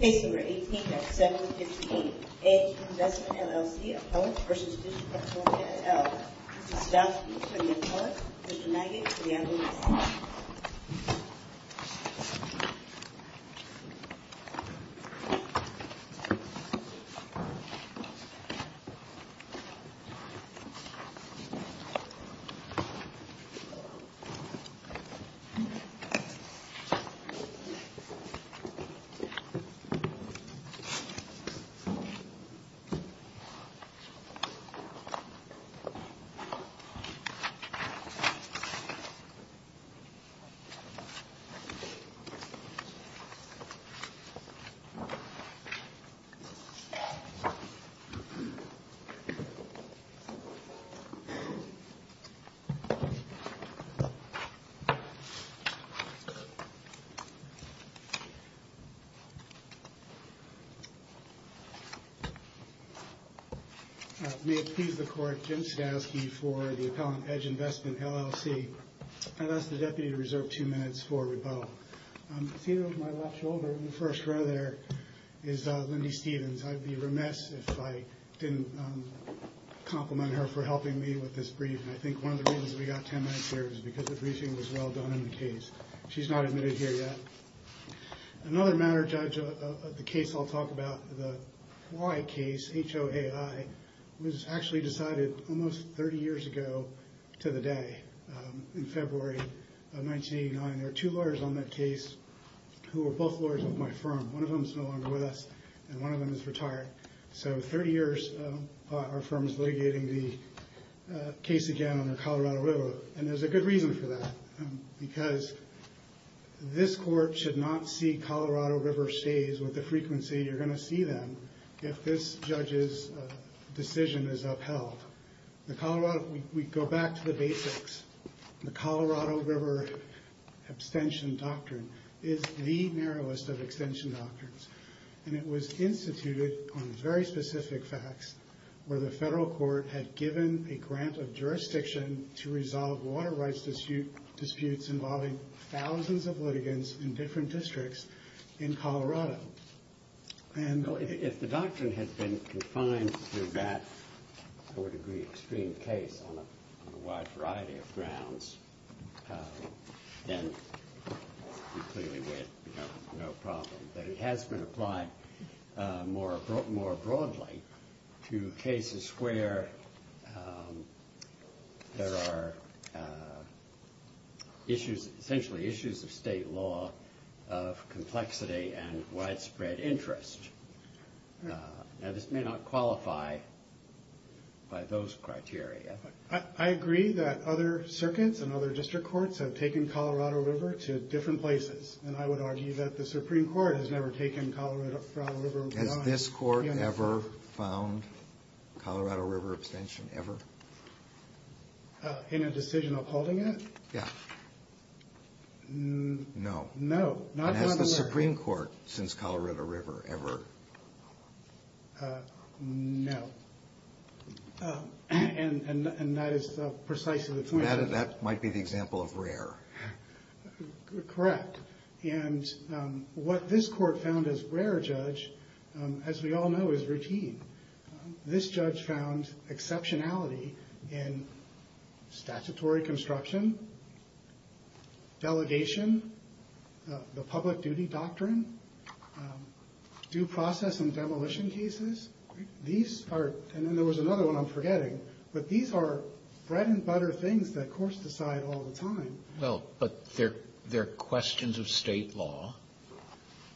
Case number 18-758A, Investment, LLC of Holmes v. District of Columbia, SL. Mr. Stout, please come to the front. Mr. Nagy, please come to the other side. Thank you, Mr. Stout. May it please the Court, Jim Stavsky for the Appellant, Edge Investment, LLC. I'd ask the Deputy to reserve two minutes for rebuttal. Seated over my left shoulder in the first row there is Lindy Stevens. I'd be remiss if I didn't compliment her for helping me with this brief. I think one of the reasons we got ten minutes here is because the briefing was well done in the case. She's not admitted here yet. Another matter, Judge, of the case I'll talk about, the Why case, H-O-A-I, was actually decided almost 30 years ago to the day in February of 1989. There were two lawyers on that case who were both lawyers of my firm. One of them is no longer with us and one of them is retired. So 30 years, our firm is litigating the case again on the Colorado River. And there's a good reason for that. Because this Court should not see Colorado River stays with the frequency you're going to see them if this judge's decision is upheld. We go back to the basics. The Colorado River abstention doctrine is the narrowest of abstention doctrines. And it was instituted on very specific facts where the federal court had given a grant of jurisdiction to resolve water rights disputes involving thousands of litigants in different districts in Colorado. If the doctrine had been confined to that, I would agree, extreme case on a wide variety of grounds, then we clearly would have no problem. But it has been applied more broadly to cases where there are issues, essentially issues of state law of complexity and widespread interest. Now, this may not qualify by those criteria. I agree that other circuits and other district courts have taken Colorado River to different places. And I would argue that the Supreme Court has never taken Colorado River. Has this Court ever found Colorado River abstention? Ever? In a decision upholding it? Yeah. No. No. And has the Supreme Court since Colorado River ever? No. And that is precisely the point. That might be the example of rare. Correct. And what this Court found as rare, Judge, as we all know, is routine. This Judge found exceptionality in statutory construction, delegation, the public duty doctrine, due process and demolition cases. And then there was another one I'm forgetting. But these are bread and butter things that courts decide all the time. Well, but they're questions of state law.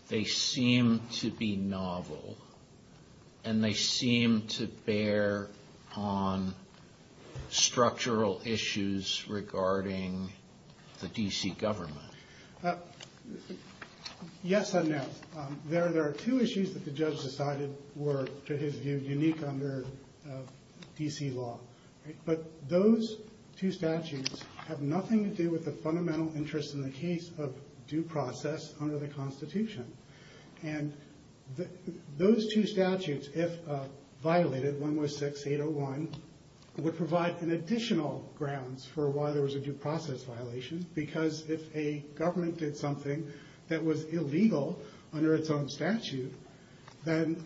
They seem to be novel. And they seem to bear on structural issues regarding the D.C. government. Yes and no. There are two issues that the Judge decided were, to his view, unique under D.C. law. But those two statutes have nothing to do with the fundamental interest in the case of due process under the Constitution. And those two statutes, if violated, 116801, would provide an additional grounds for why there was a due process violation. Because if a government did something that was illegal under its own statute, then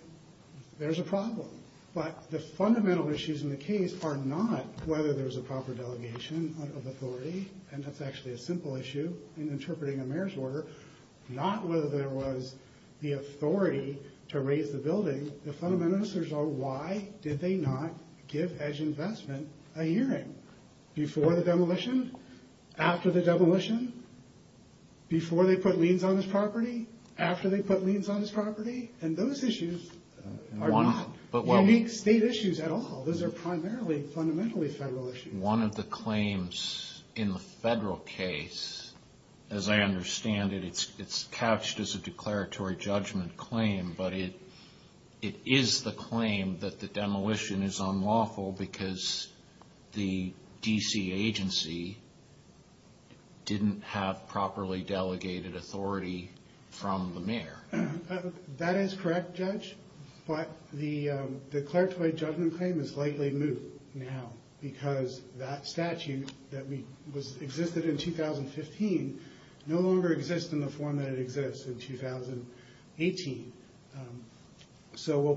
there's a problem. But the fundamental issues in the case are not whether there's a proper delegation of authority, and that's actually a simple issue in interpreting a mayor's order, not whether there was the authority to raise the building. The fundamental issues are why did they not give Edge Investment a hearing? Before the demolition? After the demolition? Before they put liens on his property? After they put liens on his property? And those issues are not unique state issues at all. Those are primarily fundamentally federal issues. One of the claims in the federal case, as I understand it, it's cached as a declaratory judgment claim, but it is the claim that the demolition is unlawful because the D.C. agency didn't have properly delegated authority from the mayor. That is correct, Judge, but the declaratory judgment claim is likely moved now because that statute that existed in 2015 no longer exists in the form that it exists in 2018. So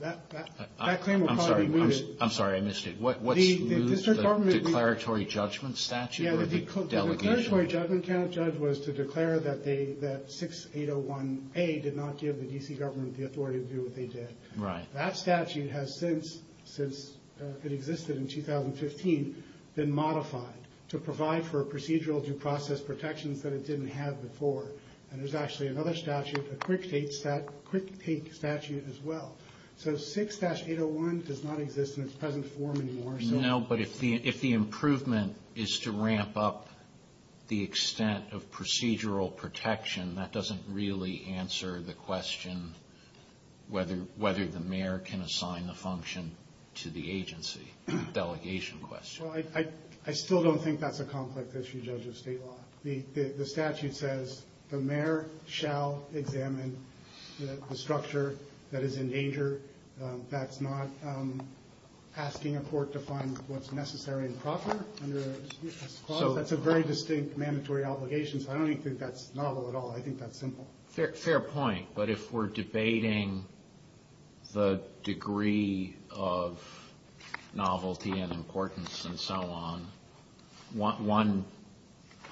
that claim will probably be moved. I'm sorry, I missed it. What's moved? The declaratory judgment statute or the delegation? The declaratory judgment, Judge, was to declare that 6801A did not give the D.C. government the authority to do what they did. Right. That statute has since it existed in 2015 been modified to provide for procedural due process protections that it didn't have before. And there's actually another statute, a quick take statute as well. So 6-801 does not exist in its present form anymore. No, but if the improvement is to ramp up the extent of procedural protection, that doesn't really answer the question whether the mayor can assign the function to the agency delegation question. Well, I still don't think that's a complex issue, Judge of State Law. The statute says the mayor shall examine the structure that is in danger. That's not asking a court to find what's necessary and proper under a due process clause. That's a very distinct mandatory obligation, so I don't even think that's novel at all. I think that's simple. Fair point. But if we're debating the degree of novelty and importance and so on, one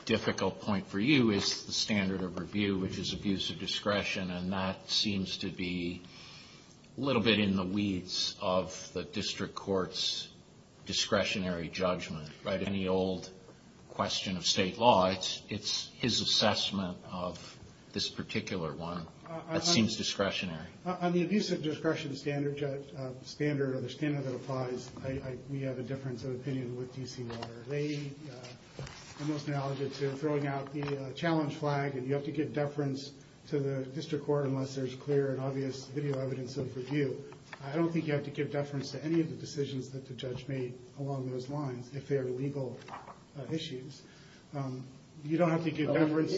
difficult point for you is the standard of review, which is abuse of discretion, and that seems to be a little bit in the weeds of the district court's discretionary judgment. Any old question of state law, it's his assessment of this particular one that seems discretionary. On the abuse of discretion standard that applies, we have a difference of opinion with D.C. Water. They are most knowledgeable to throwing out the challenge flag and you have to give deference to the district court unless there's clear and obvious video evidence of review. I don't think you have to give deference to any of the decisions that the judge made along those lines. If they're legal issues, you don't have to give deference.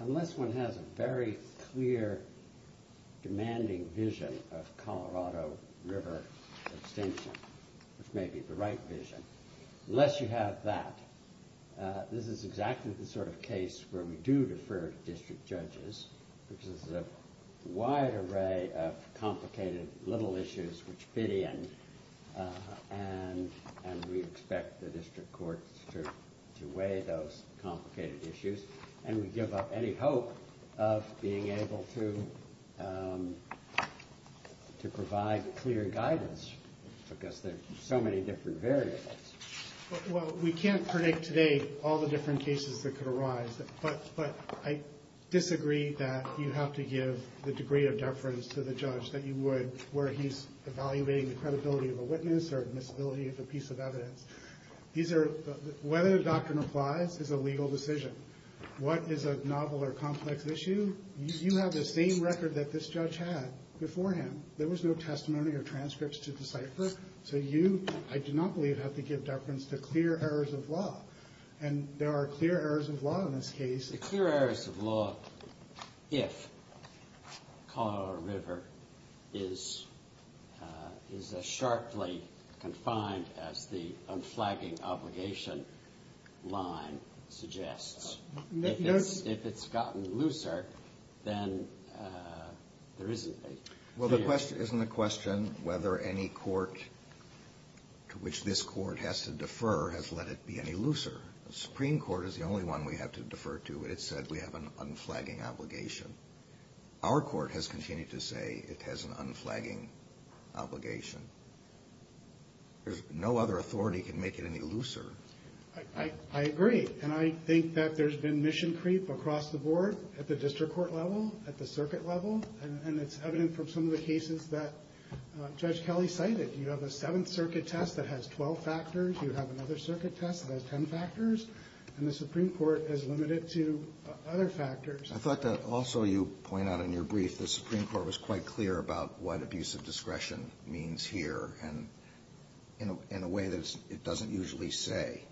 Unless one has a very clear, demanding vision of Colorado River extinction, which may be the right vision, unless you have that, this is exactly the sort of case where we do defer to district judges, which is a wide array of complicated little issues, which fit in, and we expect the district court to weigh those complicated issues and we give up any hope of being able to provide clear guidance because there are so many different variables. We can't predict today all the different cases that could arise, but I disagree that you have to give the degree of deference to the judge that you would where he's evaluating the credibility of a witness or admissibility of a piece of evidence. Whether the doctrine applies is a legal decision. What is a novel or complex issue, you have the same record that this judge had beforehand. There was no testimony or transcripts to decipher, so you, I do not believe, have to give deference to clear errors of law, and there are clear errors of law in this case. The clear errors of law if Colorado River is as sharply confined as the unflagging obligation line suggests. If it's gotten looser, then there isn't a clear error. Well, isn't the question whether any court to which this court has to defer has let it be any looser? The Supreme Court is the only one we have to defer to. It said we have an unflagging obligation. Our court has continued to say it has an unflagging obligation. There's no other authority that can make it any looser. I agree, and I think that there's been mission creep across the board at the district court level, at the circuit level, and it's evident from some of the cases that Judge Kelly cited. You have a Seventh Circuit test that has 12 factors. You have another circuit test that has 10 factors, and the Supreme Court is limited to other factors. I thought that also you point out in your brief, the Supreme Court was quite clear about what abuse of discretion means here, and in a way that it doesn't usually say.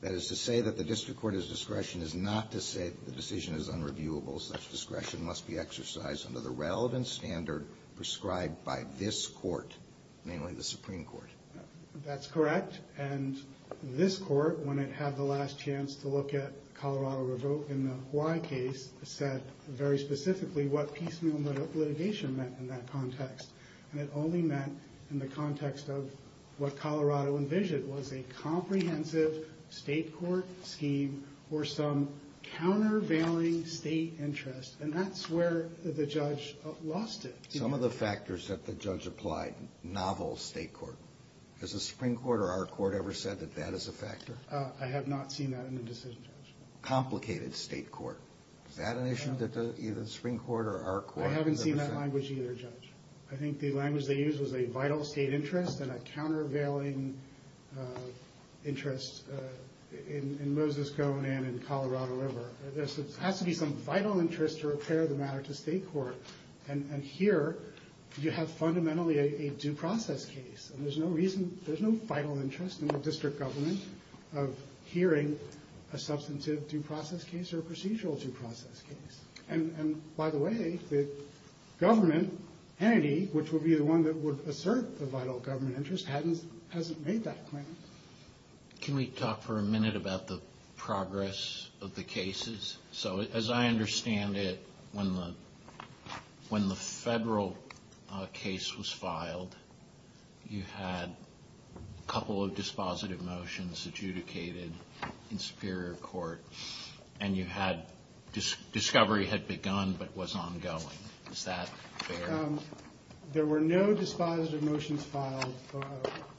That is to say that the district court's discretion is not to say the decision is unreviewable. Such discretion must be exercised under the relevant standard prescribed by this court, namely the Supreme Court. That's correct, and this court, when it had the last chance to look at Colorado Revote in the Hawaii case, said very specifically what piecemeal litigation meant in that context, and it only meant in the context of what Colorado envisioned was a comprehensive state court scheme or some countervailing state interest, and that's where the judge lost it. Some of the factors that the judge applied, novel state court. Has the Supreme Court or our court ever said that that is a factor? I have not seen that in the decision, Judge. Complicated state court. Is that an issue that either the Supreme Court or our court? I haven't seen that language either, Judge. I think the language they used was a vital state interest and a countervailing interest in Moses Cone and in Colorado River. There has to be some vital interest to repair the matter to state court, and here you have fundamentally a due process case, and there's no reason, there's no vital interest in the district government of hearing a substantive due process case or a procedural due process case. And by the way, the government entity, which would be the one that would assert the vital government interest, hasn't made that claim. Can we talk for a minute about the progress of the cases? So as I understand it, when the federal case was filed, you had a couple of dispositive motions adjudicated in Superior Court, and discovery had begun but was ongoing. Is that fair? There were no dispositive motions filed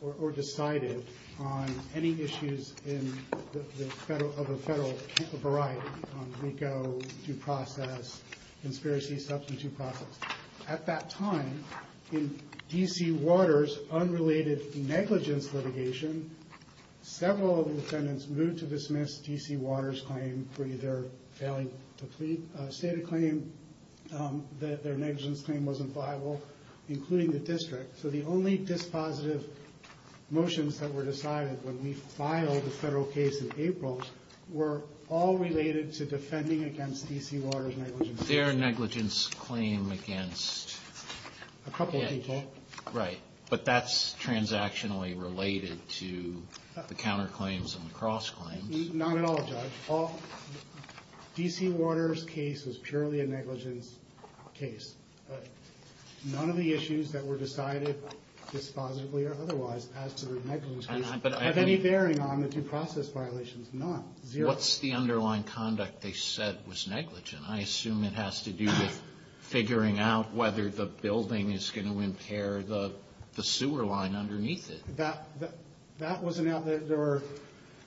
or decided on any issues of a federal variety, on RICO, due process, conspiracy, substantive process. At that time, in D.C. Waters' unrelated negligence litigation, several of the defendants moved to dismiss D.C. Waters' claim for either failing to plead, stated claim that their negligence claim wasn't viable, including the district. So the only dispositive motions that were decided when we filed the federal case in April were all related to defending against D.C. Waters' negligence claim. Their negligence claim against... A couple of people. Right. But that's transactionally related to the counterclaims and the cross-claims. Not at all, Judge. D.C. Waters' case was purely a negligence case. None of the issues that were decided dispositively or otherwise as to their negligence case have any bearing on the due process violations. None. Zero. What's the underlying conduct they said was negligent? I assume it has to do with figuring out whether the building is going to impair the sewer line underneath it. That wasn't out there. There were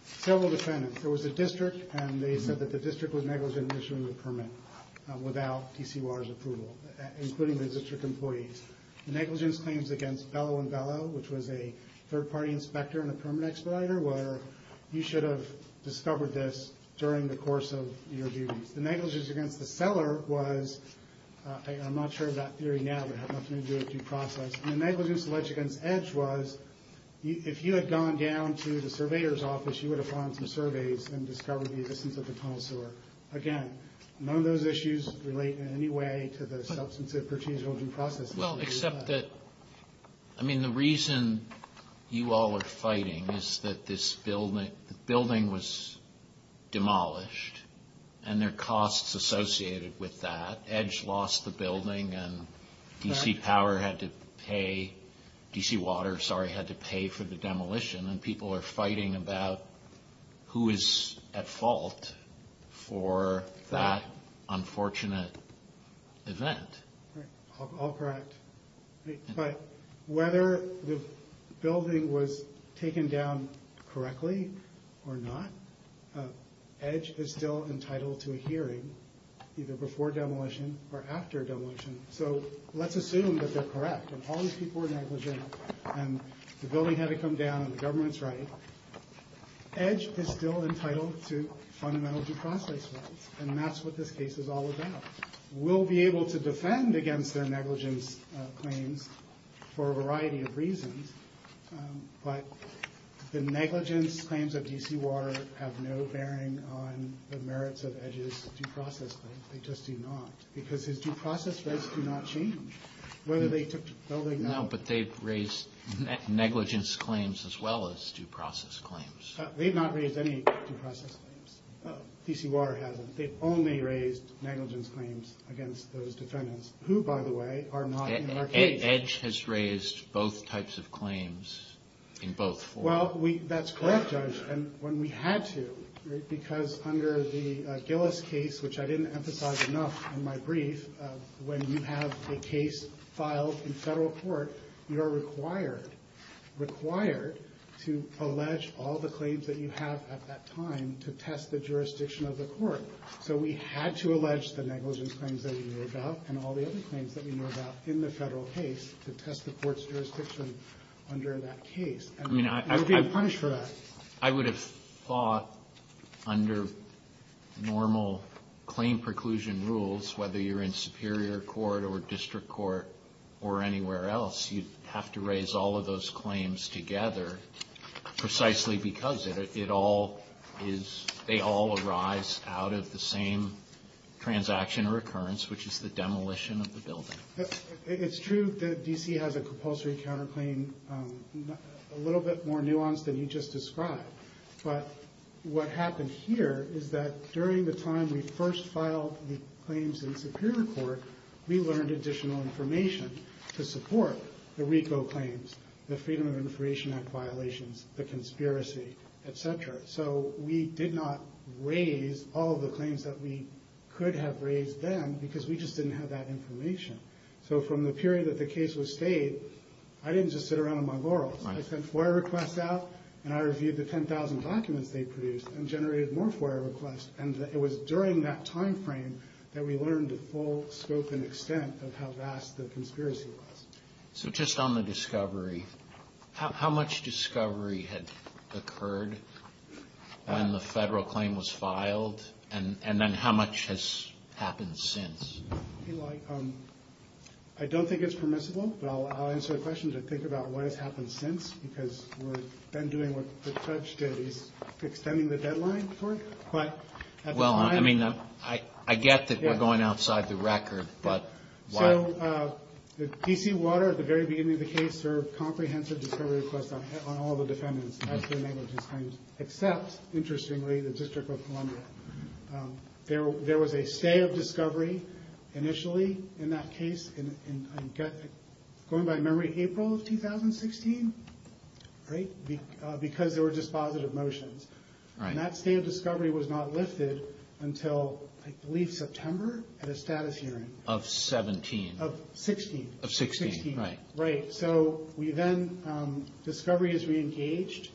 several defendants. There was a district, and they said that the district was negligent in issuing the permit without D.C. Waters' approval, including the district employees. The negligence claims against Bellow and Bellow, which was a third-party inspector and a permit expediter, where you should have discovered this during the course of your duties. The negligence against the cellar was, I'm not sure of that theory now, but it had nothing to do with due process. And the negligence alleged against Edge was, if you had gone down to the surveyor's office, you would have found some surveys and discovered the existence of the tunnel sewer. Again, none of those issues relate in any way to the substantive, pertential due process issue. Well, except that, I mean, the reason you all are fighting is that this building was demolished, and there are costs associated with that. Edge lost the building, and D.C. Waters had to pay for the demolition, and people are fighting about who is at fault for that unfortunate event. Right. All correct. But whether the building was taken down correctly or not, Edge is still entitled to a hearing, either before demolition or after demolition. So let's assume that they're correct, and all these people were negligent, and the building had to come down, and the government's right. Edge is still entitled to fundamental due process rights, and that's what this case is all about. We'll be able to defend against their negligence claims for a variety of reasons, but the negligence claims of D.C. Water have no bearing on the merits of Edge's due process claims. They just do not, because his due process rights do not change, whether they took the building down. No, but they've raised negligence claims as well as due process claims. They've not raised any due process claims. D.C. Water hasn't. They've only raised negligence claims against those defendants, who, by the way, are not in our case. Edge has raised both types of claims in both forms. Well, that's correct, Judge, and when we had to, because under the Gillis case, which I didn't emphasize enough in my brief, when you have a case filed in federal court, you are required to allege all the claims that you have at that time to test the jurisdiction of the court. So we had to allege the negligence claims that we knew about and all the other claims that we knew about in the federal case to test the court's jurisdiction under that case. I mean, I would be punished for that. I would have thought under normal claim preclusion rules, whether you're in superior court or district court or anywhere else, you'd have to raise all of those claims together precisely because they all arise out of the same transaction or occurrence, which is the demolition of the building. It's true that D.C. has a compulsory counterclaim a little bit more nuanced than you just described, but what happened here is that during the time we first filed the claims in superior court, we learned additional information to support the RICO claims, the Freedom of Information Act violations, the conspiracy, etc. So we did not raise all of the claims that we could have raised then because we just didn't have that information. So from the period that the case was stayed, I didn't just sit around on my laurels. I sent FOIA requests out, and I reviewed the 10,000 documents they produced and generated more FOIA requests, and it was during that time frame that we learned the full scope and extent of how vast the conspiracy was. So just on the discovery, how much discovery had occurred when the federal claim was filed, and then how much has happened since? Eli, I don't think it's permissible, but I'll answer the question to think about what has happened since because we've been doing what the judge did. He's extending the deadline for it. Well, I mean, I get that we're going outside the record, but why? So D.C. Water at the very beginning of the case served comprehensive discovery requests on all the defendants as to the negligence claims except, interestingly, the District of Columbia. There was a stay of discovery initially in that case, going by memory, April of 2016, because there were dispositive motions. And that stay of discovery was not lifted until, I believe, September at a status hearing. Of 17. Of 16. Of 16, right. Right, so we then, discovery is reengaged.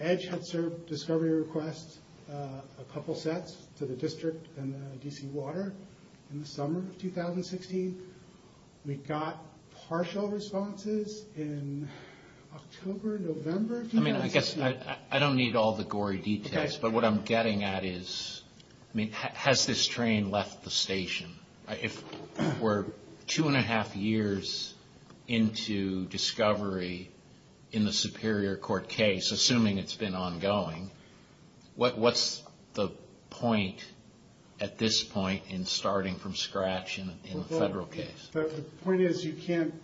EDGE had served discovery requests a couple sets to the district and D.C. Water in the summer of 2016. We got partial responses in October, November. I mean, I guess I don't need all the gory details, but what I'm getting at is, I mean, has this train left the station? If we're two and a half years into discovery in the Superior Court case, assuming it's been ongoing, what's the point at this point in starting from scratch in a federal case? The point is you can't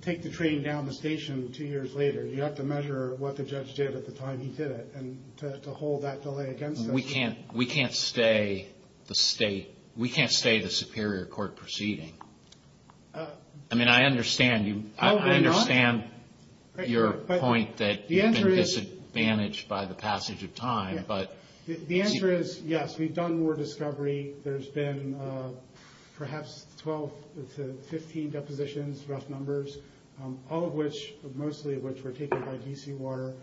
take the train down the station two years later. You have to measure what the judge did at the time he did it, and to hold that delay against us. We can't stay the Superior Court proceeding. I mean, I understand your point that you've been disadvantaged by the passage of time. The answer is yes, we've done more discovery. There's been perhaps 12 to 15 depositions, rough numbers, all of which, mostly of which were taken by D.C. Water.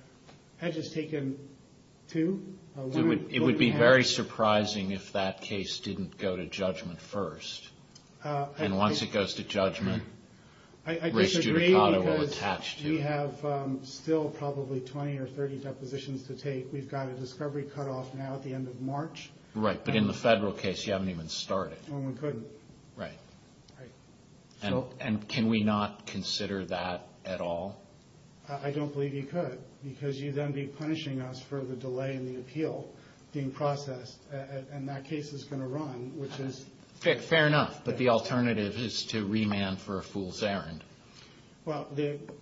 EDGE has taken two. It would be very surprising if that case didn't go to judgment first, and once it goes to judgment, race judicata will attach to it. I disagree because we have still probably 20 or 30 depositions to take. We've got a discovery cutoff now at the end of March. Right, but in the federal case, you haven't even started. Well, we couldn't. Right. Right. And can we not consider that at all? I don't believe you could, because you'd then be punishing us for the delay in the appeal being processed, and that case is going to run, which is— Fair enough, but the alternative is to remand for a fool's errand. Well,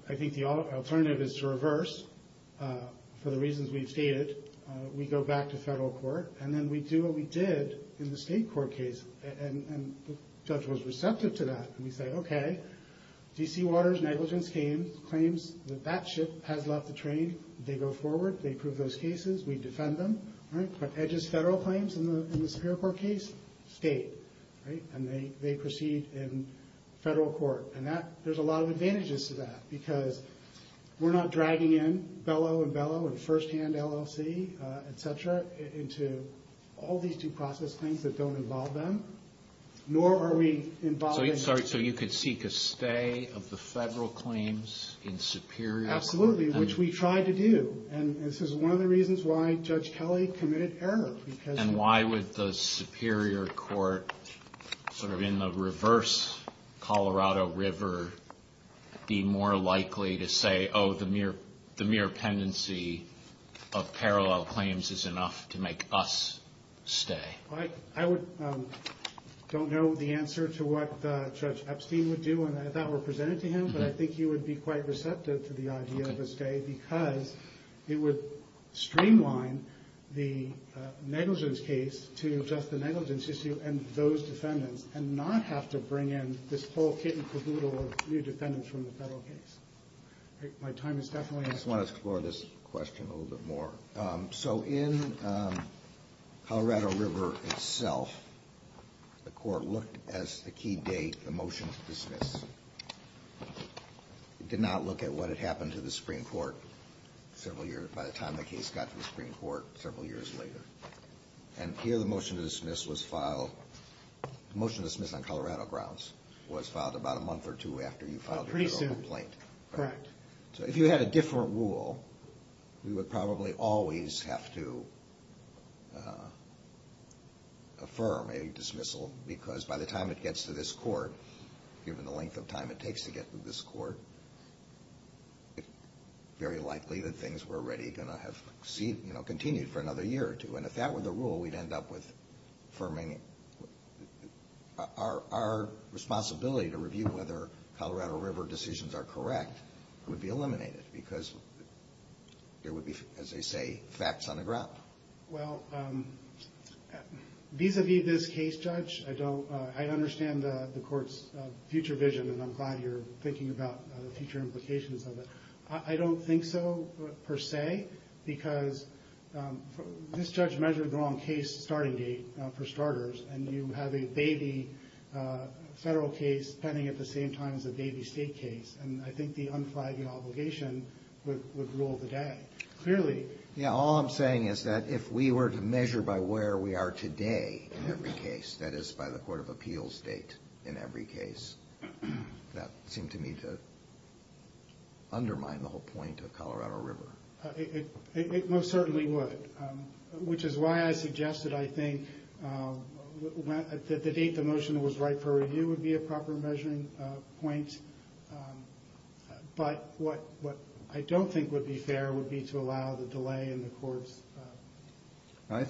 I think the alternative is to reverse, for the reasons we've stated. We go back to federal court, and then we do what we did in the state court case, and the judge was receptive to that. And we say, okay, DC Waters negligence claims that that ship has left the train. They go forward. They prove those cases. We defend them. All right, but EDGE's federal claims in the Superior Court case, state, right, and they proceed in federal court. And there's a lot of advantages to that, because we're not dragging in Bellow and Bellow and first-hand LLC, et cetera, into all these due process claims that don't involve them, nor are we involving— So you could seek a stay of the federal claims in Superior Court? Absolutely, which we tried to do, and this is one of the reasons why Judge Kelly committed error, because— And why would the Superior Court, sort of in the reverse Colorado River, be more likely to say, oh, the mere pendency of parallel claims is enough to make us stay? I don't know the answer to what Judge Epstein would do, and I thought were presented to him, but I think he would be quite receptive to the idea of a stay, because it would streamline the negligence case to just the negligence issue and those defendants, and not have to bring in this whole kit and caboodle of new defendants from the federal case. My time is definitely up. I just want to explore this question a little bit more. So in Colorado River itself, the court looked as the key date, the motion to dismiss. It did not look at what had happened to the Supreme Court several years—by the time the case got to the Supreme Court several years later. And here the motion to dismiss was filed—the motion to dismiss on Colorado grounds was filed about a month or two after you filed your federal complaint. Pretty soon, correct. So if you had a different rule, you would probably always have to affirm a dismissal, because by the time it gets to this court, given the length of time it takes to get to this court, it's very likely that things were already going to have continued for another year or two. And if that were the rule, our responsibility to review whether Colorado River decisions are correct would be eliminated, because there would be, as they say, facts on the ground. Well, vis-a-vis this case, Judge, I understand the court's future vision, and I'm glad you're thinking about the future implications of it. I don't think so, per se, because this judge measured the wrong case starting date, for starters, and you have a baby federal case pending at the same time as a baby state case. And I think the unflagging obligation would rule the day, clearly. Yeah, all I'm saying is that if we were to measure by where we are today in every case—that is, by the court of appeals date in every case— that would seem to me to undermine the whole point of Colorado River. It most certainly would, which is why I suggested, I think, that the date the motion was right for review would be a proper measuring point. But what I don't think would be fair would be to allow the delay in the court's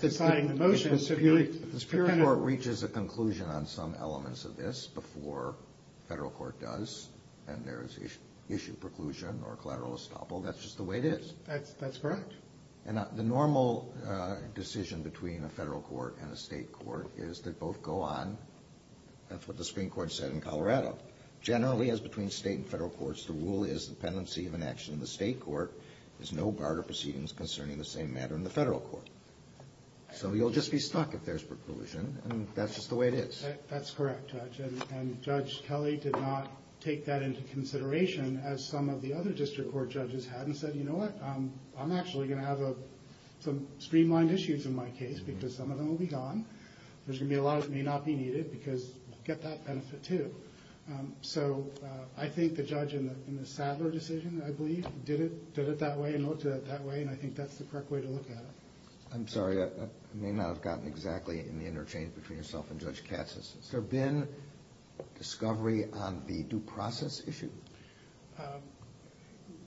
deciding the motion. If the Superior Court reaches a conclusion on some elements of this before federal court does, and there is issue preclusion or collateral estoppel, that's just the way it is. That's correct. And the normal decision between a federal court and a state court is that both go on. That's what the Supreme Court said in Colorado. Generally, as between state and federal courts, the rule is the pendency of an action in the state court is no bar to proceedings concerning the same matter in the federal court. So you'll just be stuck if there's preclusion, and that's just the way it is. That's correct, Judge. And Judge Kelly did not take that into consideration, as some of the other district court judges had, and said, You know what? I'm actually going to have some streamlined issues in my case because some of them will be gone. There's going to be a lot that may not be needed because we'll get that benefit, too. So I think the judge in the Sadler decision, I believe, did it that way and looked at it that way, and I think that's the correct way to look at it. I'm sorry. I may not have gotten exactly in the interchange between yourself and Judge Katz. Has there been discovery on the due process issue?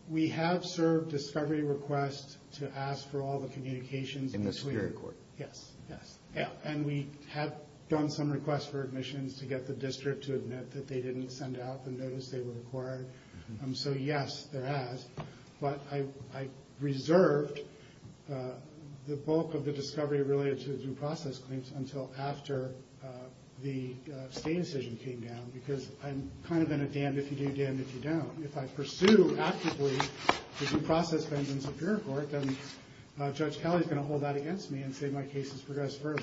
We have served discovery requests to ask for all the communications. In the Superior Court? Yes, yes. And we have done some requests for admissions to get the district to admit that they didn't send out the notice they were required. So, yes, there has. But I reserved the bulk of the discovery related to the due process claims until after the state decision came down, because I'm kind of in a damned-if-you-do, damned-if-you-don't. If I pursue actively due process claims in the Superior Court, then Judge Kelly is going to hold that against me and say my case has progressed further.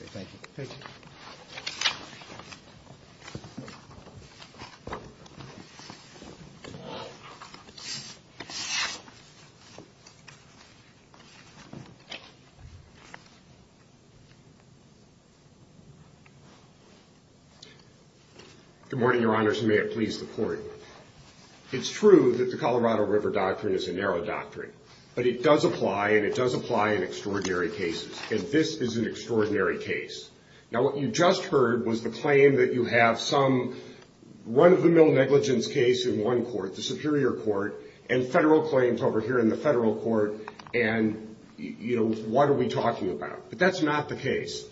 Thank you. Thank you. Good morning, Your Honors, and may it please the Court. It's true that the Colorado River Doctrine is a narrow doctrine, but it does apply, and it does apply in extraordinary cases. And this is an extraordinary case. Now, what you just heard was the claim that you have some run-of-the-mill negligence case in one court, the Superior Court, and federal claims over here in the Federal Court, and, you know, what are we talking about? But that's not the case.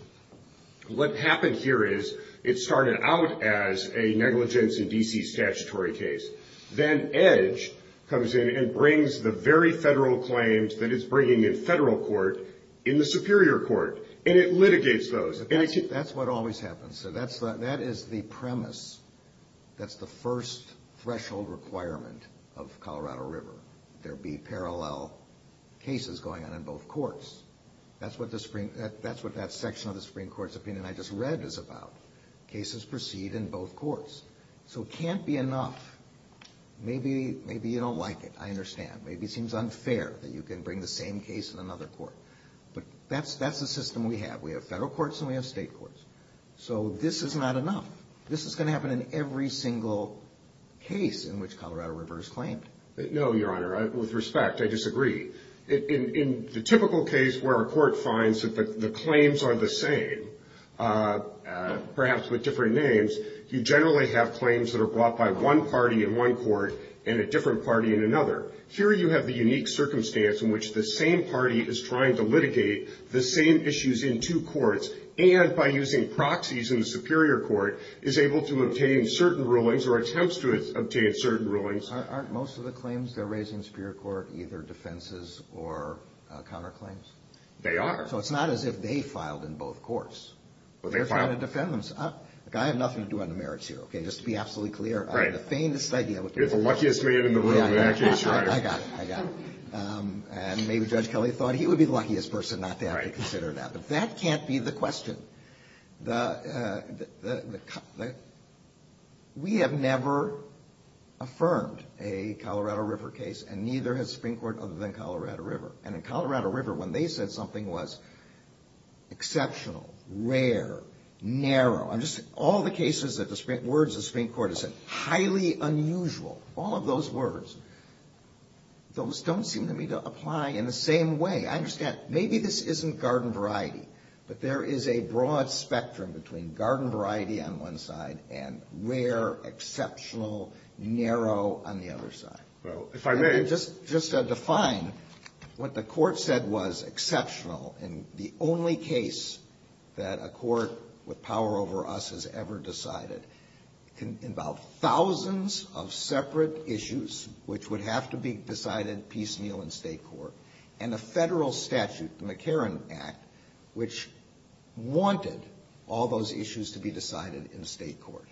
What happened here is it started out as a negligence in D.C. statutory case. Then EDGE comes in and brings the very federal claims that it's bringing in Federal Court in the Superior Court, and it litigates those. That's what always happens. That is the premise. That's the first threshold requirement of Colorado River, there be parallel cases going on in both courts. That's what that section of the Supreme Court's opinion I just read is about. Cases proceed in both courts. So it can't be enough. Maybe you don't like it. I understand. Maybe it seems unfair that you can bring the same case in another court. But that's the system we have. We have federal courts and we have state courts. So this is not enough. This is going to happen in every single case in which Colorado River is claimed. No, Your Honor. With respect, I disagree. In the typical case where a court finds that the claims are the same, perhaps with different names, you generally have claims that are brought by one party in one court and a different party in another. Here you have the unique circumstance in which the same party is trying to litigate the same issues in two courts and by using proxies in the Superior Court is able to obtain certain rulings or attempts to obtain certain rulings. Aren't most of the claims they're raising in the Superior Court either defenses or counterclaims? They are. So it's not as if they filed in both courts. But they filed. They're trying to defend themselves. Look, I have nothing to do on the merits here, okay, just to be absolutely clear. Right. You're the luckiest man in the room in that case, Your Honor. I got it. I got it. And maybe Judge Kelly thought he would be the luckiest person not to have to consider that. Right. But that can't be the question. We have never affirmed a Colorado River case, and neither has the Supreme Court other than Colorado River. And in Colorado River, when they said something was exceptional, rare, narrow, all the cases that the Supreme Court has said, highly unusual, all of those words, those don't seem to me to apply in the same way. I understand maybe this isn't garden variety, but there is a broad spectrum between garden variety on one side and rare, exceptional, narrow on the other side. Well, if I may. Just to define what the Court said was exceptional in the only case that a court with power over us has ever decided. It can involve thousands of separate issues which would have to be decided piecemeal in state court. And a federal statute, the McCarran Act, which wanted all those issues to be decided in state court.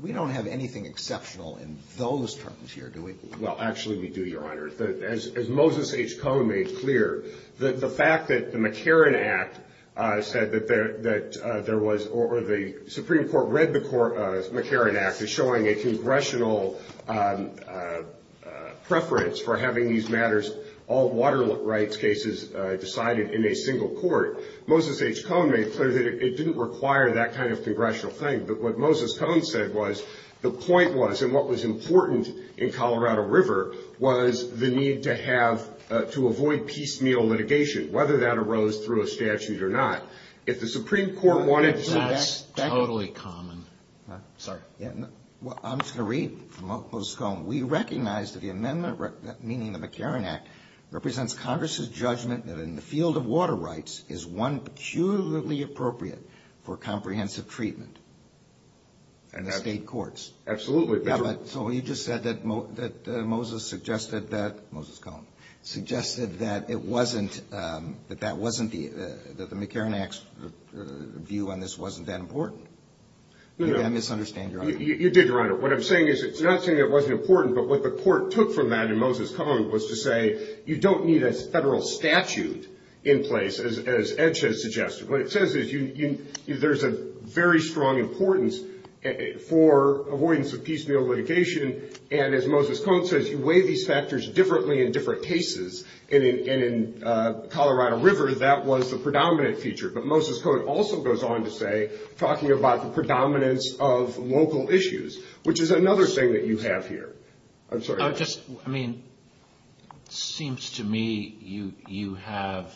We don't have anything exceptional in those terms here, do we? Well, actually we do, Your Honor. As Moses H. Cohen made clear, the fact that the McCarran Act said that there was, or the Supreme Court read the McCarran Act as showing a congressional preference for having these matters, all water rights cases, decided in a single court. Moses H. Cohen made clear that it didn't require that kind of congressional thing. But what Moses Cohen said was, the point was, and what was important in Colorado River, was the need to have, to avoid piecemeal litigation, whether that arose through a statute or not. If the Supreme Court wanted to... That's totally common. Sorry. I'm just going to read from Moses Cohen. We recognize that the amendment, meaning the McCarran Act, represents Congress' judgment that in the field of water rights is one peculiarly appropriate for comprehensive treatment in the state courts. Absolutely. So you just said that Moses suggested that, Moses Cohen, suggested that it wasn't, that that wasn't, that the McCarran Act's view on this wasn't that important. Did I misunderstand your argument? You did, Your Honor. What I'm saying is, you're not saying it wasn't important, but what the court took from that in Moses Cohen was to say, you don't need a federal statute in place, as Edge has suggested. What it says is, there's a very strong importance for avoidance of piecemeal litigation, and as Moses Cohen says, you weigh these factors differently in different cases. And in Colorado River, that was the predominant feature. But Moses Cohen also goes on to say, talking about the predominance of local issues, which is another thing that you have here. I'm sorry. I mean, it seems to me you have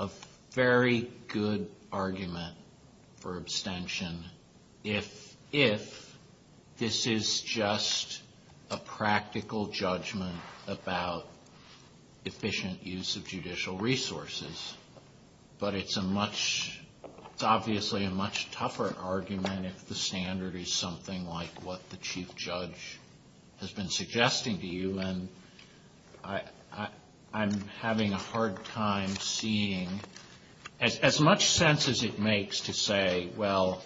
a very good argument for abstention, if this is just a practical judgment about efficient use of judicial resources. But it's a much, it's obviously a much tougher argument if the standard is something like what the chief judge has been suggesting to you. And I'm having a hard time seeing, as much sense as it makes to say, well,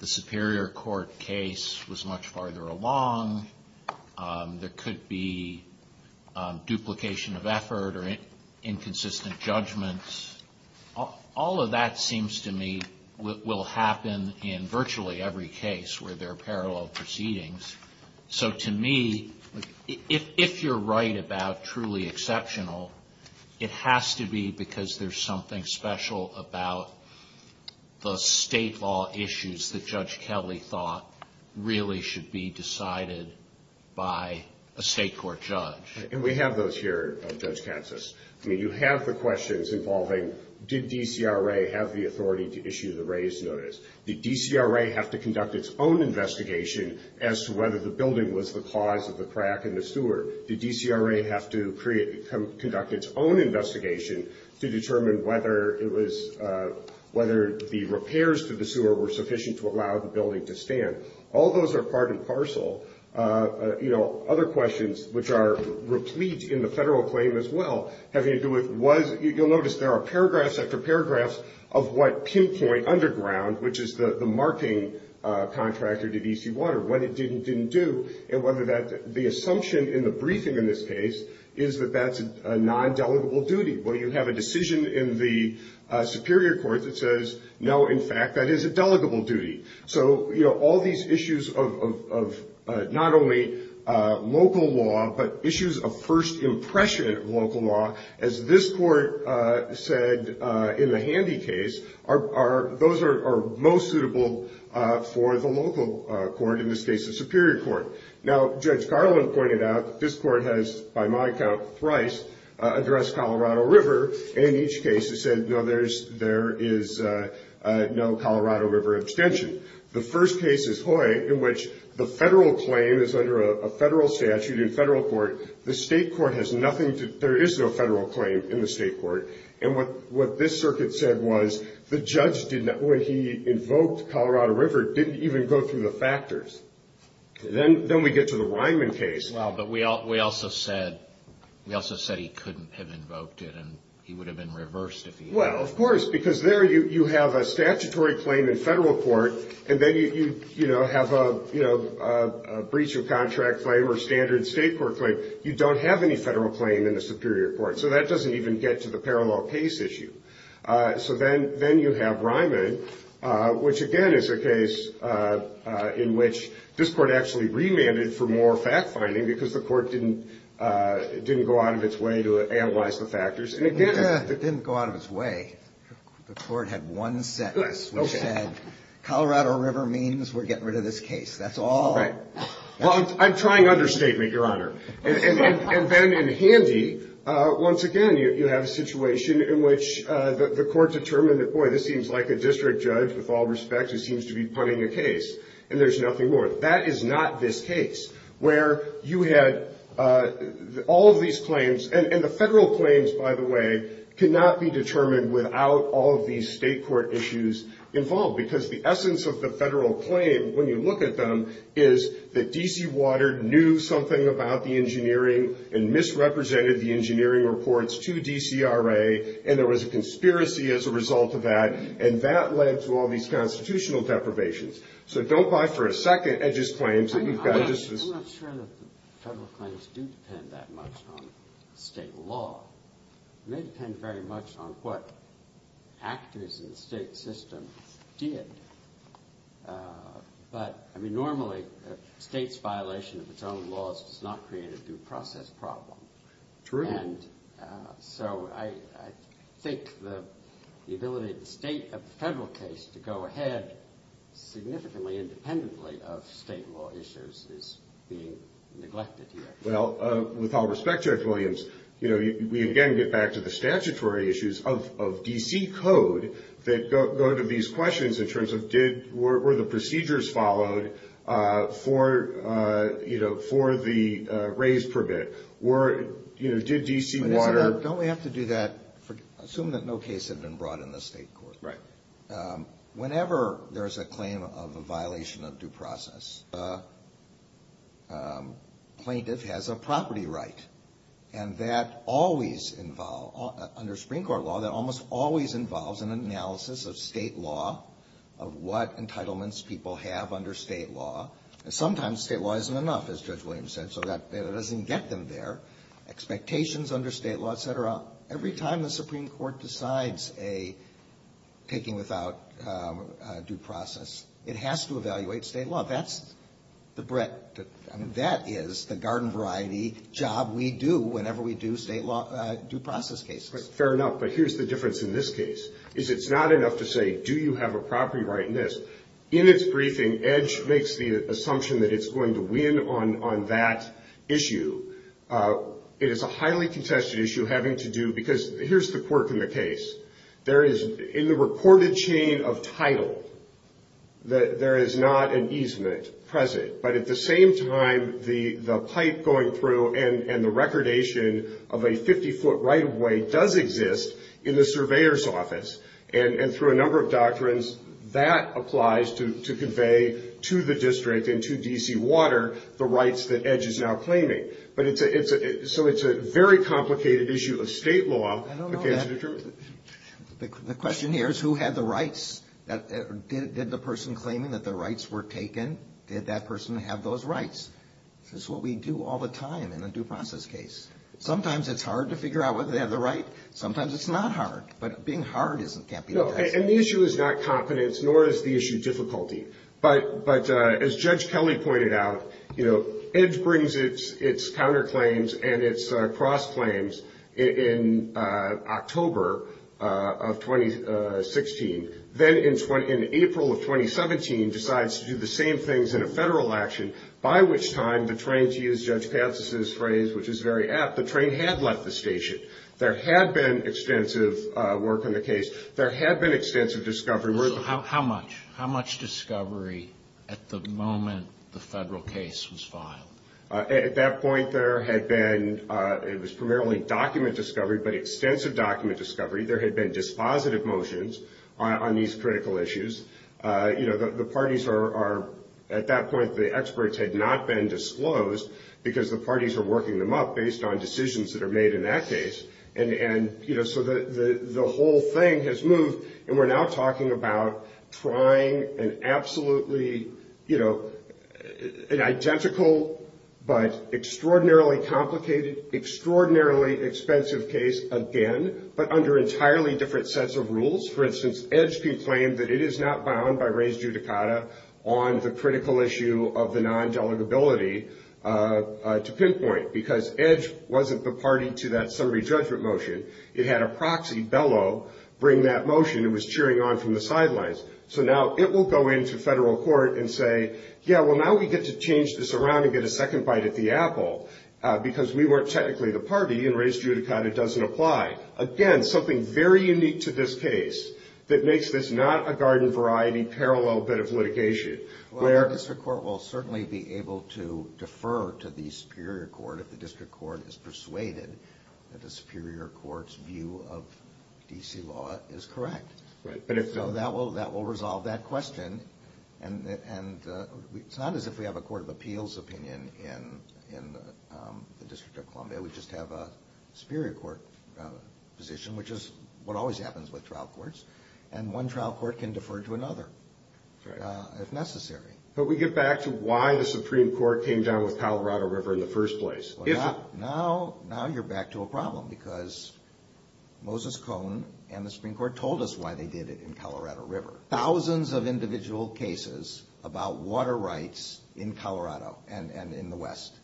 the superior court case was much farther along. There could be duplication of effort or inconsistent judgments. All of that seems to me will happen in virtually every case where there are parallel proceedings. So to me, if you're right about truly exceptional, it has to be because there's something special about the state law issues that Judge Kelly thought really should be decided by a state court judge. And we have those here, Judge Katsas. I mean, you have the questions involving, did DCRA have the authority to issue the raise notice? Did DCRA have to conduct its own investigation as to whether the building was the cause of the crack in the sewer? Did DCRA have to conduct its own investigation to determine whether it was, whether the repairs to the sewer were sufficient to allow the building to stand? All those are part and parcel. Other questions, which are replete in the federal claim as well, having to do with, you'll notice there are paragraphs after paragraphs of what pinpoint underground, which is the marking contractor to DC Water, what it did and didn't do, and whether the assumption in the briefing in this case is that that's a non-delegable duty. Well, you have a decision in the superior court that says, no, in fact, that is a delegable duty. So, you know, all these issues of not only local law, but issues of first impression local law, as this court said in the Handy case, those are most suitable for the local court, in this case the superior court. Now, Judge Garland pointed out that this court has, by my count, thrice addressed Colorado River, and in each case has said, no, there is no Colorado River abstention. The first case is Hoy, in which the federal claim is under a federal statute in federal court. The state court has nothing to, there is no federal claim in the state court. And what this circuit said was the judge, when he invoked Colorado River, didn't even go through the factors. Then we get to the Ryman case. Well, but we also said he couldn't have invoked it, and he would have been reversed if he had. Well, of course, because there you have a statutory claim in federal court, and then you have a breach of contract claim or standard state court claim. You don't have any federal claim in the superior court. So that doesn't even get to the parallel case issue. So then you have Ryman, which, again, is a case in which this court actually remanded for more fact-finding because the court didn't go out of its way to analyze the factors. It didn't go out of its way. The court had one sentence, which said Colorado River means we're getting rid of this case. That's all. Right. Well, I'm trying understatement, Your Honor. And then in handy, once again, you have a situation in which the court determined that, boy, this seems like a district judge, with all respect, who seems to be punting a case. And there's nothing more. That is not this case, where you had all of these claims. And the federal claims, by the way, cannot be determined without all of these state court issues involved, because the essence of the federal claim, when you look at them, is that D.C. Water knew something about the engineering and misrepresented the engineering reports to DCRA, and there was a conspiracy as a result of that, and that led to all these constitutional deprivations. So don't buy for a second Edge's claims. I'm not sure that the federal claims do depend that much on state law. They depend very much on what actors in the state system did. But, I mean, normally a state's violation of its own laws does not create a due process problem. True. And so I think the ability of the federal case to go ahead significantly independently of state law issues is being neglected here. Well, with all respect, Judge Williams, you know, we again get back to the statutory issues of D.C. Code that go to these questions in terms of did, were the procedures followed for, you know, for the raise permit? Or, you know, did D.C. Water Don't we have to do that, assume that no case had been brought in the state court. Right. Whenever there is a claim of a violation of due process, a plaintiff has a property right. And that always involves, under Supreme Court law, that almost always involves an analysis of state law, of what entitlements people have under state law. And sometimes state law isn't enough, as Judge Williams said, so that doesn't get them there. Expectations under state law, et cetera. Every time the Supreme Court decides a taking without due process, it has to evaluate state law. That's the bread. That is the garden variety job we do whenever we do state law due process cases. Fair enough. But here's the difference in this case, is it's not enough to say, do you have a property right in this. In its briefing, Edge makes the assumption that it's going to win on that issue. It is a highly contested issue having to do, because here's the quirk in the case. There is, in the reported chain of title, there is not an easement present. But at the same time, the pipe going through and the recordation of a 50-foot right-of-way does exist in the surveyor's office. And through a number of doctrines, that applies to convey to the district and to D.C. Water the rights that Edge is now claiming. So it's a very complicated issue of state law. I don't know that. The question here is who had the rights. Did the person claiming that the rights were taken, did that person have those rights? This is what we do all the time in a due process case. Sometimes it's hard to figure out whether they have the right. Sometimes it's not hard. But being hard can't be the answer. And the issue is not confidence, nor is the issue difficulty. But as Judge Kelly pointed out, you know, Edge brings its counterclaims and its cross-claims in October of 2016. Then in April of 2017, decides to do the same things in a federal action, by which time the train, to use Judge Patsis' phrase, which is very apt, the train had left the station. There had been extensive work on the case. There had been extensive discovery. So how much? How much discovery at the moment the federal case was filed? At that point, there had been, it was primarily document discovery, but extensive document discovery. There had been dispositive motions on these critical issues. You know, the parties are, at that point, the experts had not been disclosed because the parties were working them up based on decisions that are made in that case. And, you know, so the whole thing has moved. And we're now talking about trying an absolutely, you know, an identical but extraordinarily complicated, extraordinarily expensive case again, but under entirely different sets of rules. For instance, Edge can claim that it is not bound by res judicata on the critical issue of the non-delegability to pinpoint because Edge wasn't the party to that summary judgment motion. It had a proxy, Bellow, bring that motion. It was cheering on from the sidelines. So now it will go into federal court and say, yeah, well, now we get to change this around and get a second bite at the apple because we weren't technically the party and res judicata doesn't apply. Again, something very unique to this case that makes this not a garden variety parallel bit of litigation. Well, the district court will certainly be able to defer to the superior court if the district court is persuaded that the superior court's view of D.C. law is correct. Right. So that will resolve that question. And it's not as if we have a court of appeals opinion in the District of Columbia. We just have a superior court position, which is what always happens with trial courts, and one trial court can defer to another if necessary. But we get back to why the Supreme Court came down with Colorado River in the first place. Now you're back to a problem because Moses Cohen and the Supreme Court told us why they did it in Colorado River. Thousands of individual cases about water rights in Colorado and in the West.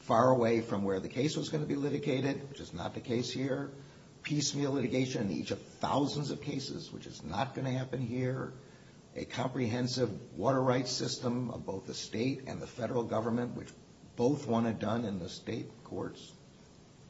Far away from where the case was going to be litigated, which is not the case here. Piecemeal litigation in each of thousands of cases, which is not going to happen here. A comprehensive water rights system of both the state and the federal government, which both want it done in the state courts.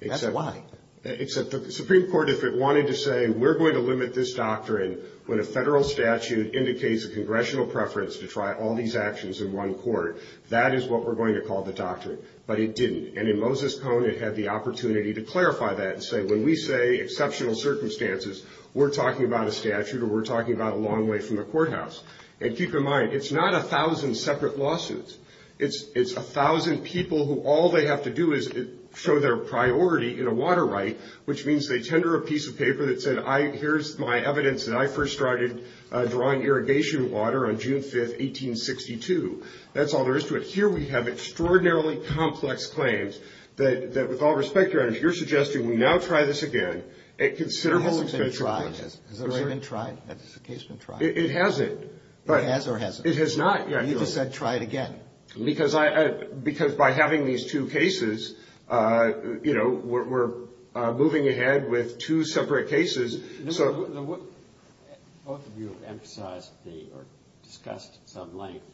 That's why. Except the Supreme Court, if it wanted to say, we're going to limit this doctrine when a federal statute indicates a congressional preference to try all these actions in one court, that is what we're going to call the doctrine. But it didn't. And in Moses Cohen, it had the opportunity to clarify that and say, when we say exceptional circumstances, we're talking about a statute or we're talking about a long way from the courthouse. And keep in mind, it's not a thousand separate lawsuits. It's a thousand people who all they have to do is show their priority in a water right, which means they tender a piece of paper that said, here's my evidence that I first started drawing irrigation water on June 5th, 1862. That's all there is to it. Here we have extraordinarily complex claims that with all respect, Your Honor, if you're suggesting we now try this again at considerable expense. It hasn't been tried. Has it already been tried? Has this case been tried? It hasn't. It has or hasn't? It has not yet. You just said try it again. Because by having these two cases, you know, we're moving ahead with two separate cases. Both of you have emphasized or discussed at some length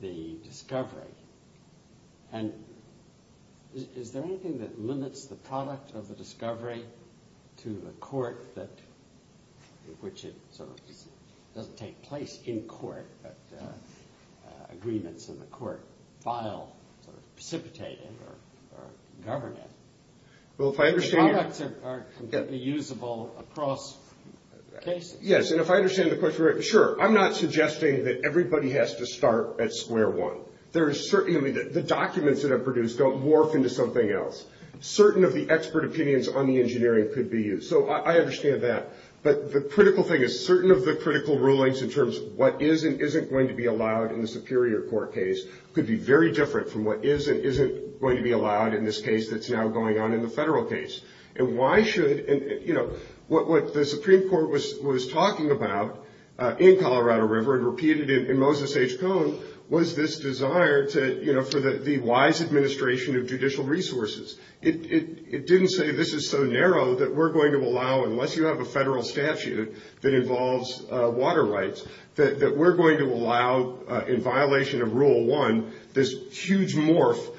the discovery. And is there anything that limits the product of the discovery to a court in which it sort of doesn't take place in court, but agreements in the court file precipitate it or govern it? The products are completely usable across cases. Yes. And if I understand the question right, sure. I'm not suggesting that everybody has to start at square one. The documents that are produced don't morph into something else. Certain of the expert opinions on the engineering could be used. So I understand that. But the critical thing is certain of the critical rulings in terms of what is and isn't going to be allowed in the superior court case could be very different from what is and isn't going to be allowed in this case that's now going on in the federal case. And why should, you know, what the Supreme Court was talking about in Colorado River and repeated in Moses H. Cohn was this desire to, you know, for the wise administration of judicial resources. It didn't say this is so narrow that we're going to allow, unless you have a federal statute that involves water rights, that we're going to allow in violation of rule one this huge morph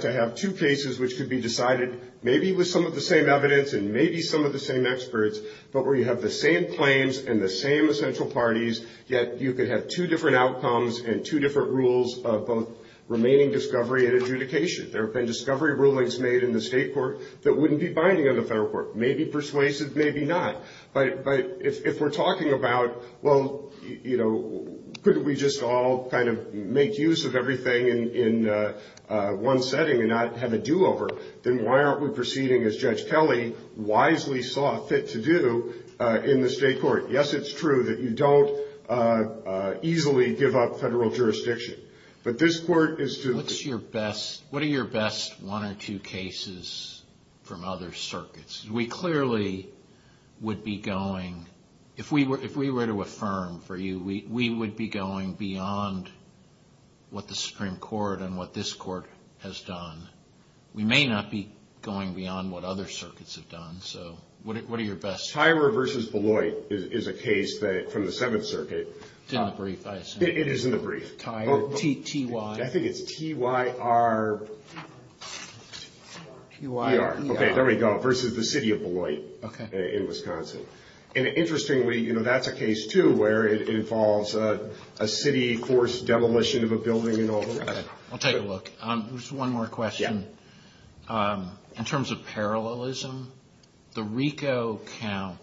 to have two cases which could be decided maybe with some of the same evidence and maybe some of the same experts, but where you have the same claims and the same essential parties, yet you could have two different outcomes and two different rules of both remaining discovery and adjudication. There have been discovery rulings made in the state court that wouldn't be binding on the federal court. Maybe persuasive, maybe not. But if we're talking about, well, you know, couldn't we just all kind of make use of everything in one setting and not have a do-over, then why aren't we proceeding as Judge Kelly wisely saw fit to do in the state court? Yes, it's true that you don't easily give up federal jurisdiction. What are your best one or two cases from other circuits? We clearly would be going, if we were to affirm for you, we would be going beyond what the Supreme Court and what this court has done. We may not be going beyond what other circuits have done, so what are your best? Tyra versus Beloit is a case from the Seventh Circuit. It's in the brief, I assume. It is in the brief. Tyra, T-Y. I think it's T-Y-R-E-R. T-Y-R-E-R. Okay, there we go, versus the city of Beloit in Wisconsin. And interestingly, you know, that's a case, too, where it involves a city forced demolition of a building and all the rest of it. I'll take a look. Just one more question. Yeah. In terms of parallelism, the RICO count,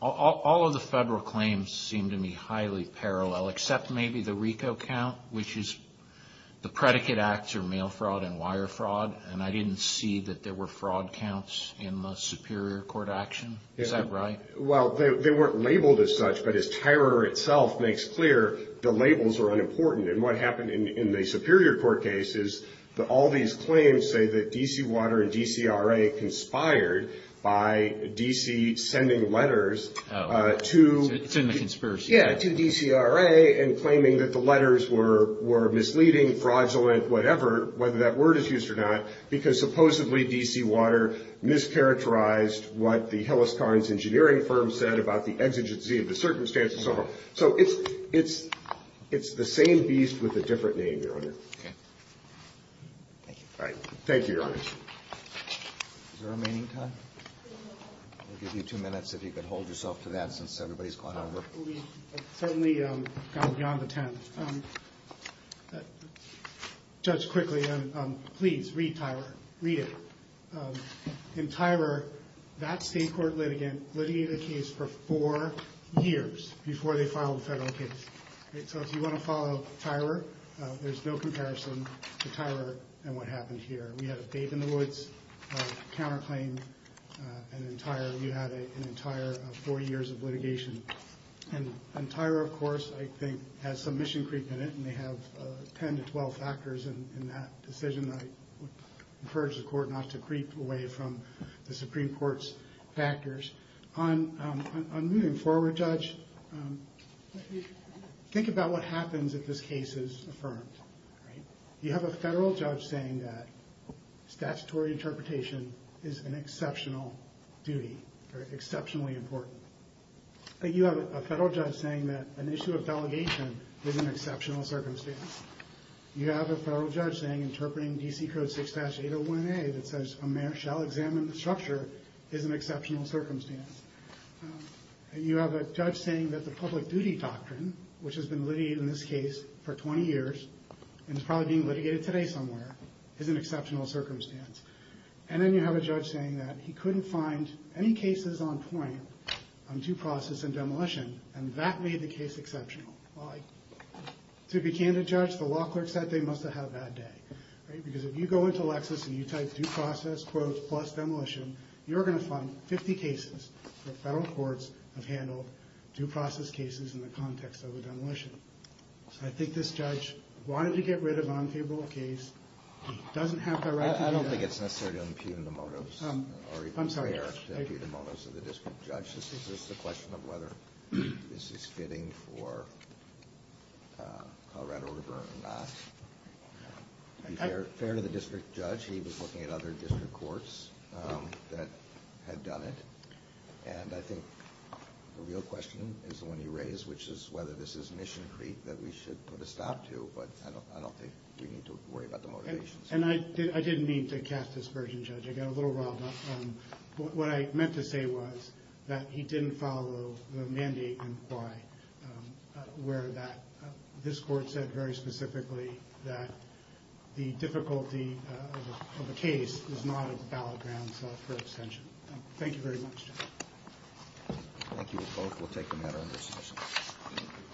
all of the federal claims seem to me highly parallel, except maybe the RICO count, which is the predicate acts are mail fraud and wire fraud, and I didn't see that there were fraud counts in the Superior Court action. Is that right? Well, they weren't labeled as such, but as Tyra itself makes clear, the labels are unimportant. And what happened in the Superior Court case is that all these claims say that D.C. Water and DCRA conspired by D.C. sending letters to. It's in the conspiracy. Yeah, to DCRA and claiming that the letters were misleading, fraudulent, whatever, whether that word is used or not, because supposedly D.C. Water mischaracterized what the Hillis-Karnes engineering firm said about the exigency of the circumstances. So it's the same beast with a different name, Your Honor. Okay. Thank you. All right. Thank you, Your Honor. Is there remaining time? I'll give you two minutes if you could hold yourself to that since everybody's gone over. Well, we've certainly gone beyond the ten. Judge, quickly, please read Tyra. Read it. In Tyra, that state court litigant litigated a case for four years before they filed a federal case. So if you want to follow Tyra, there's no comparison to Tyra and what happened here. We had a bathe-in-the-woods counterclaim, and in Tyra you had an entire four years of litigation. And Tyra, of course, I think has some mission creep in it, and they have 10 to 12 factors in that decision. I would encourage the Court not to creep away from the Supreme Court's factors. On moving forward, Judge, think about what happens if this case is affirmed. You have a federal judge saying that statutory interpretation is an exceptional duty or exceptionally important. You have a federal judge saying that an issue of delegation is an exceptional circumstance. You have a federal judge saying interpreting D.C. Code 6-801A that says a mayor shall examine the structure is an exceptional circumstance. And you have a judge saying that the public duty doctrine, which has been litigated in this case for 20 years and is probably being litigated today somewhere, is an exceptional circumstance. And then you have a judge saying that he couldn't find any cases on point to process a demolition, and that made the case exceptional. Well, to be candid, Judge, the law clerk said they must have had a bad day. Because if you go into Lexis and you type due process, quotes, plus demolition, you're going to find 50 cases that federal courts have handled, due process cases in the context of a demolition. So I think this judge wanted to get rid of unfavorable case. He doesn't have the right to do that. I don't think it's necessary to impugn the motives. I'm sorry. To be fair to the district judge, this is a question of whether this is fitting for Colorado River or not. To be fair to the district judge, he was looking at other district courts that had done it. And I think the real question is the one you raised, which is whether this is Mission Creek that we should put a stop to. But I don't think we need to worry about the motivations. And I didn't mean to cast this version, Judge. I got a little riled up. What I meant to say was that he didn't follow the mandate and why, where this court said very specifically that the difficulty of a case is not a ballot ground for extension. Thank you very much, Judge. Thank you. We both will take the matter under suspension.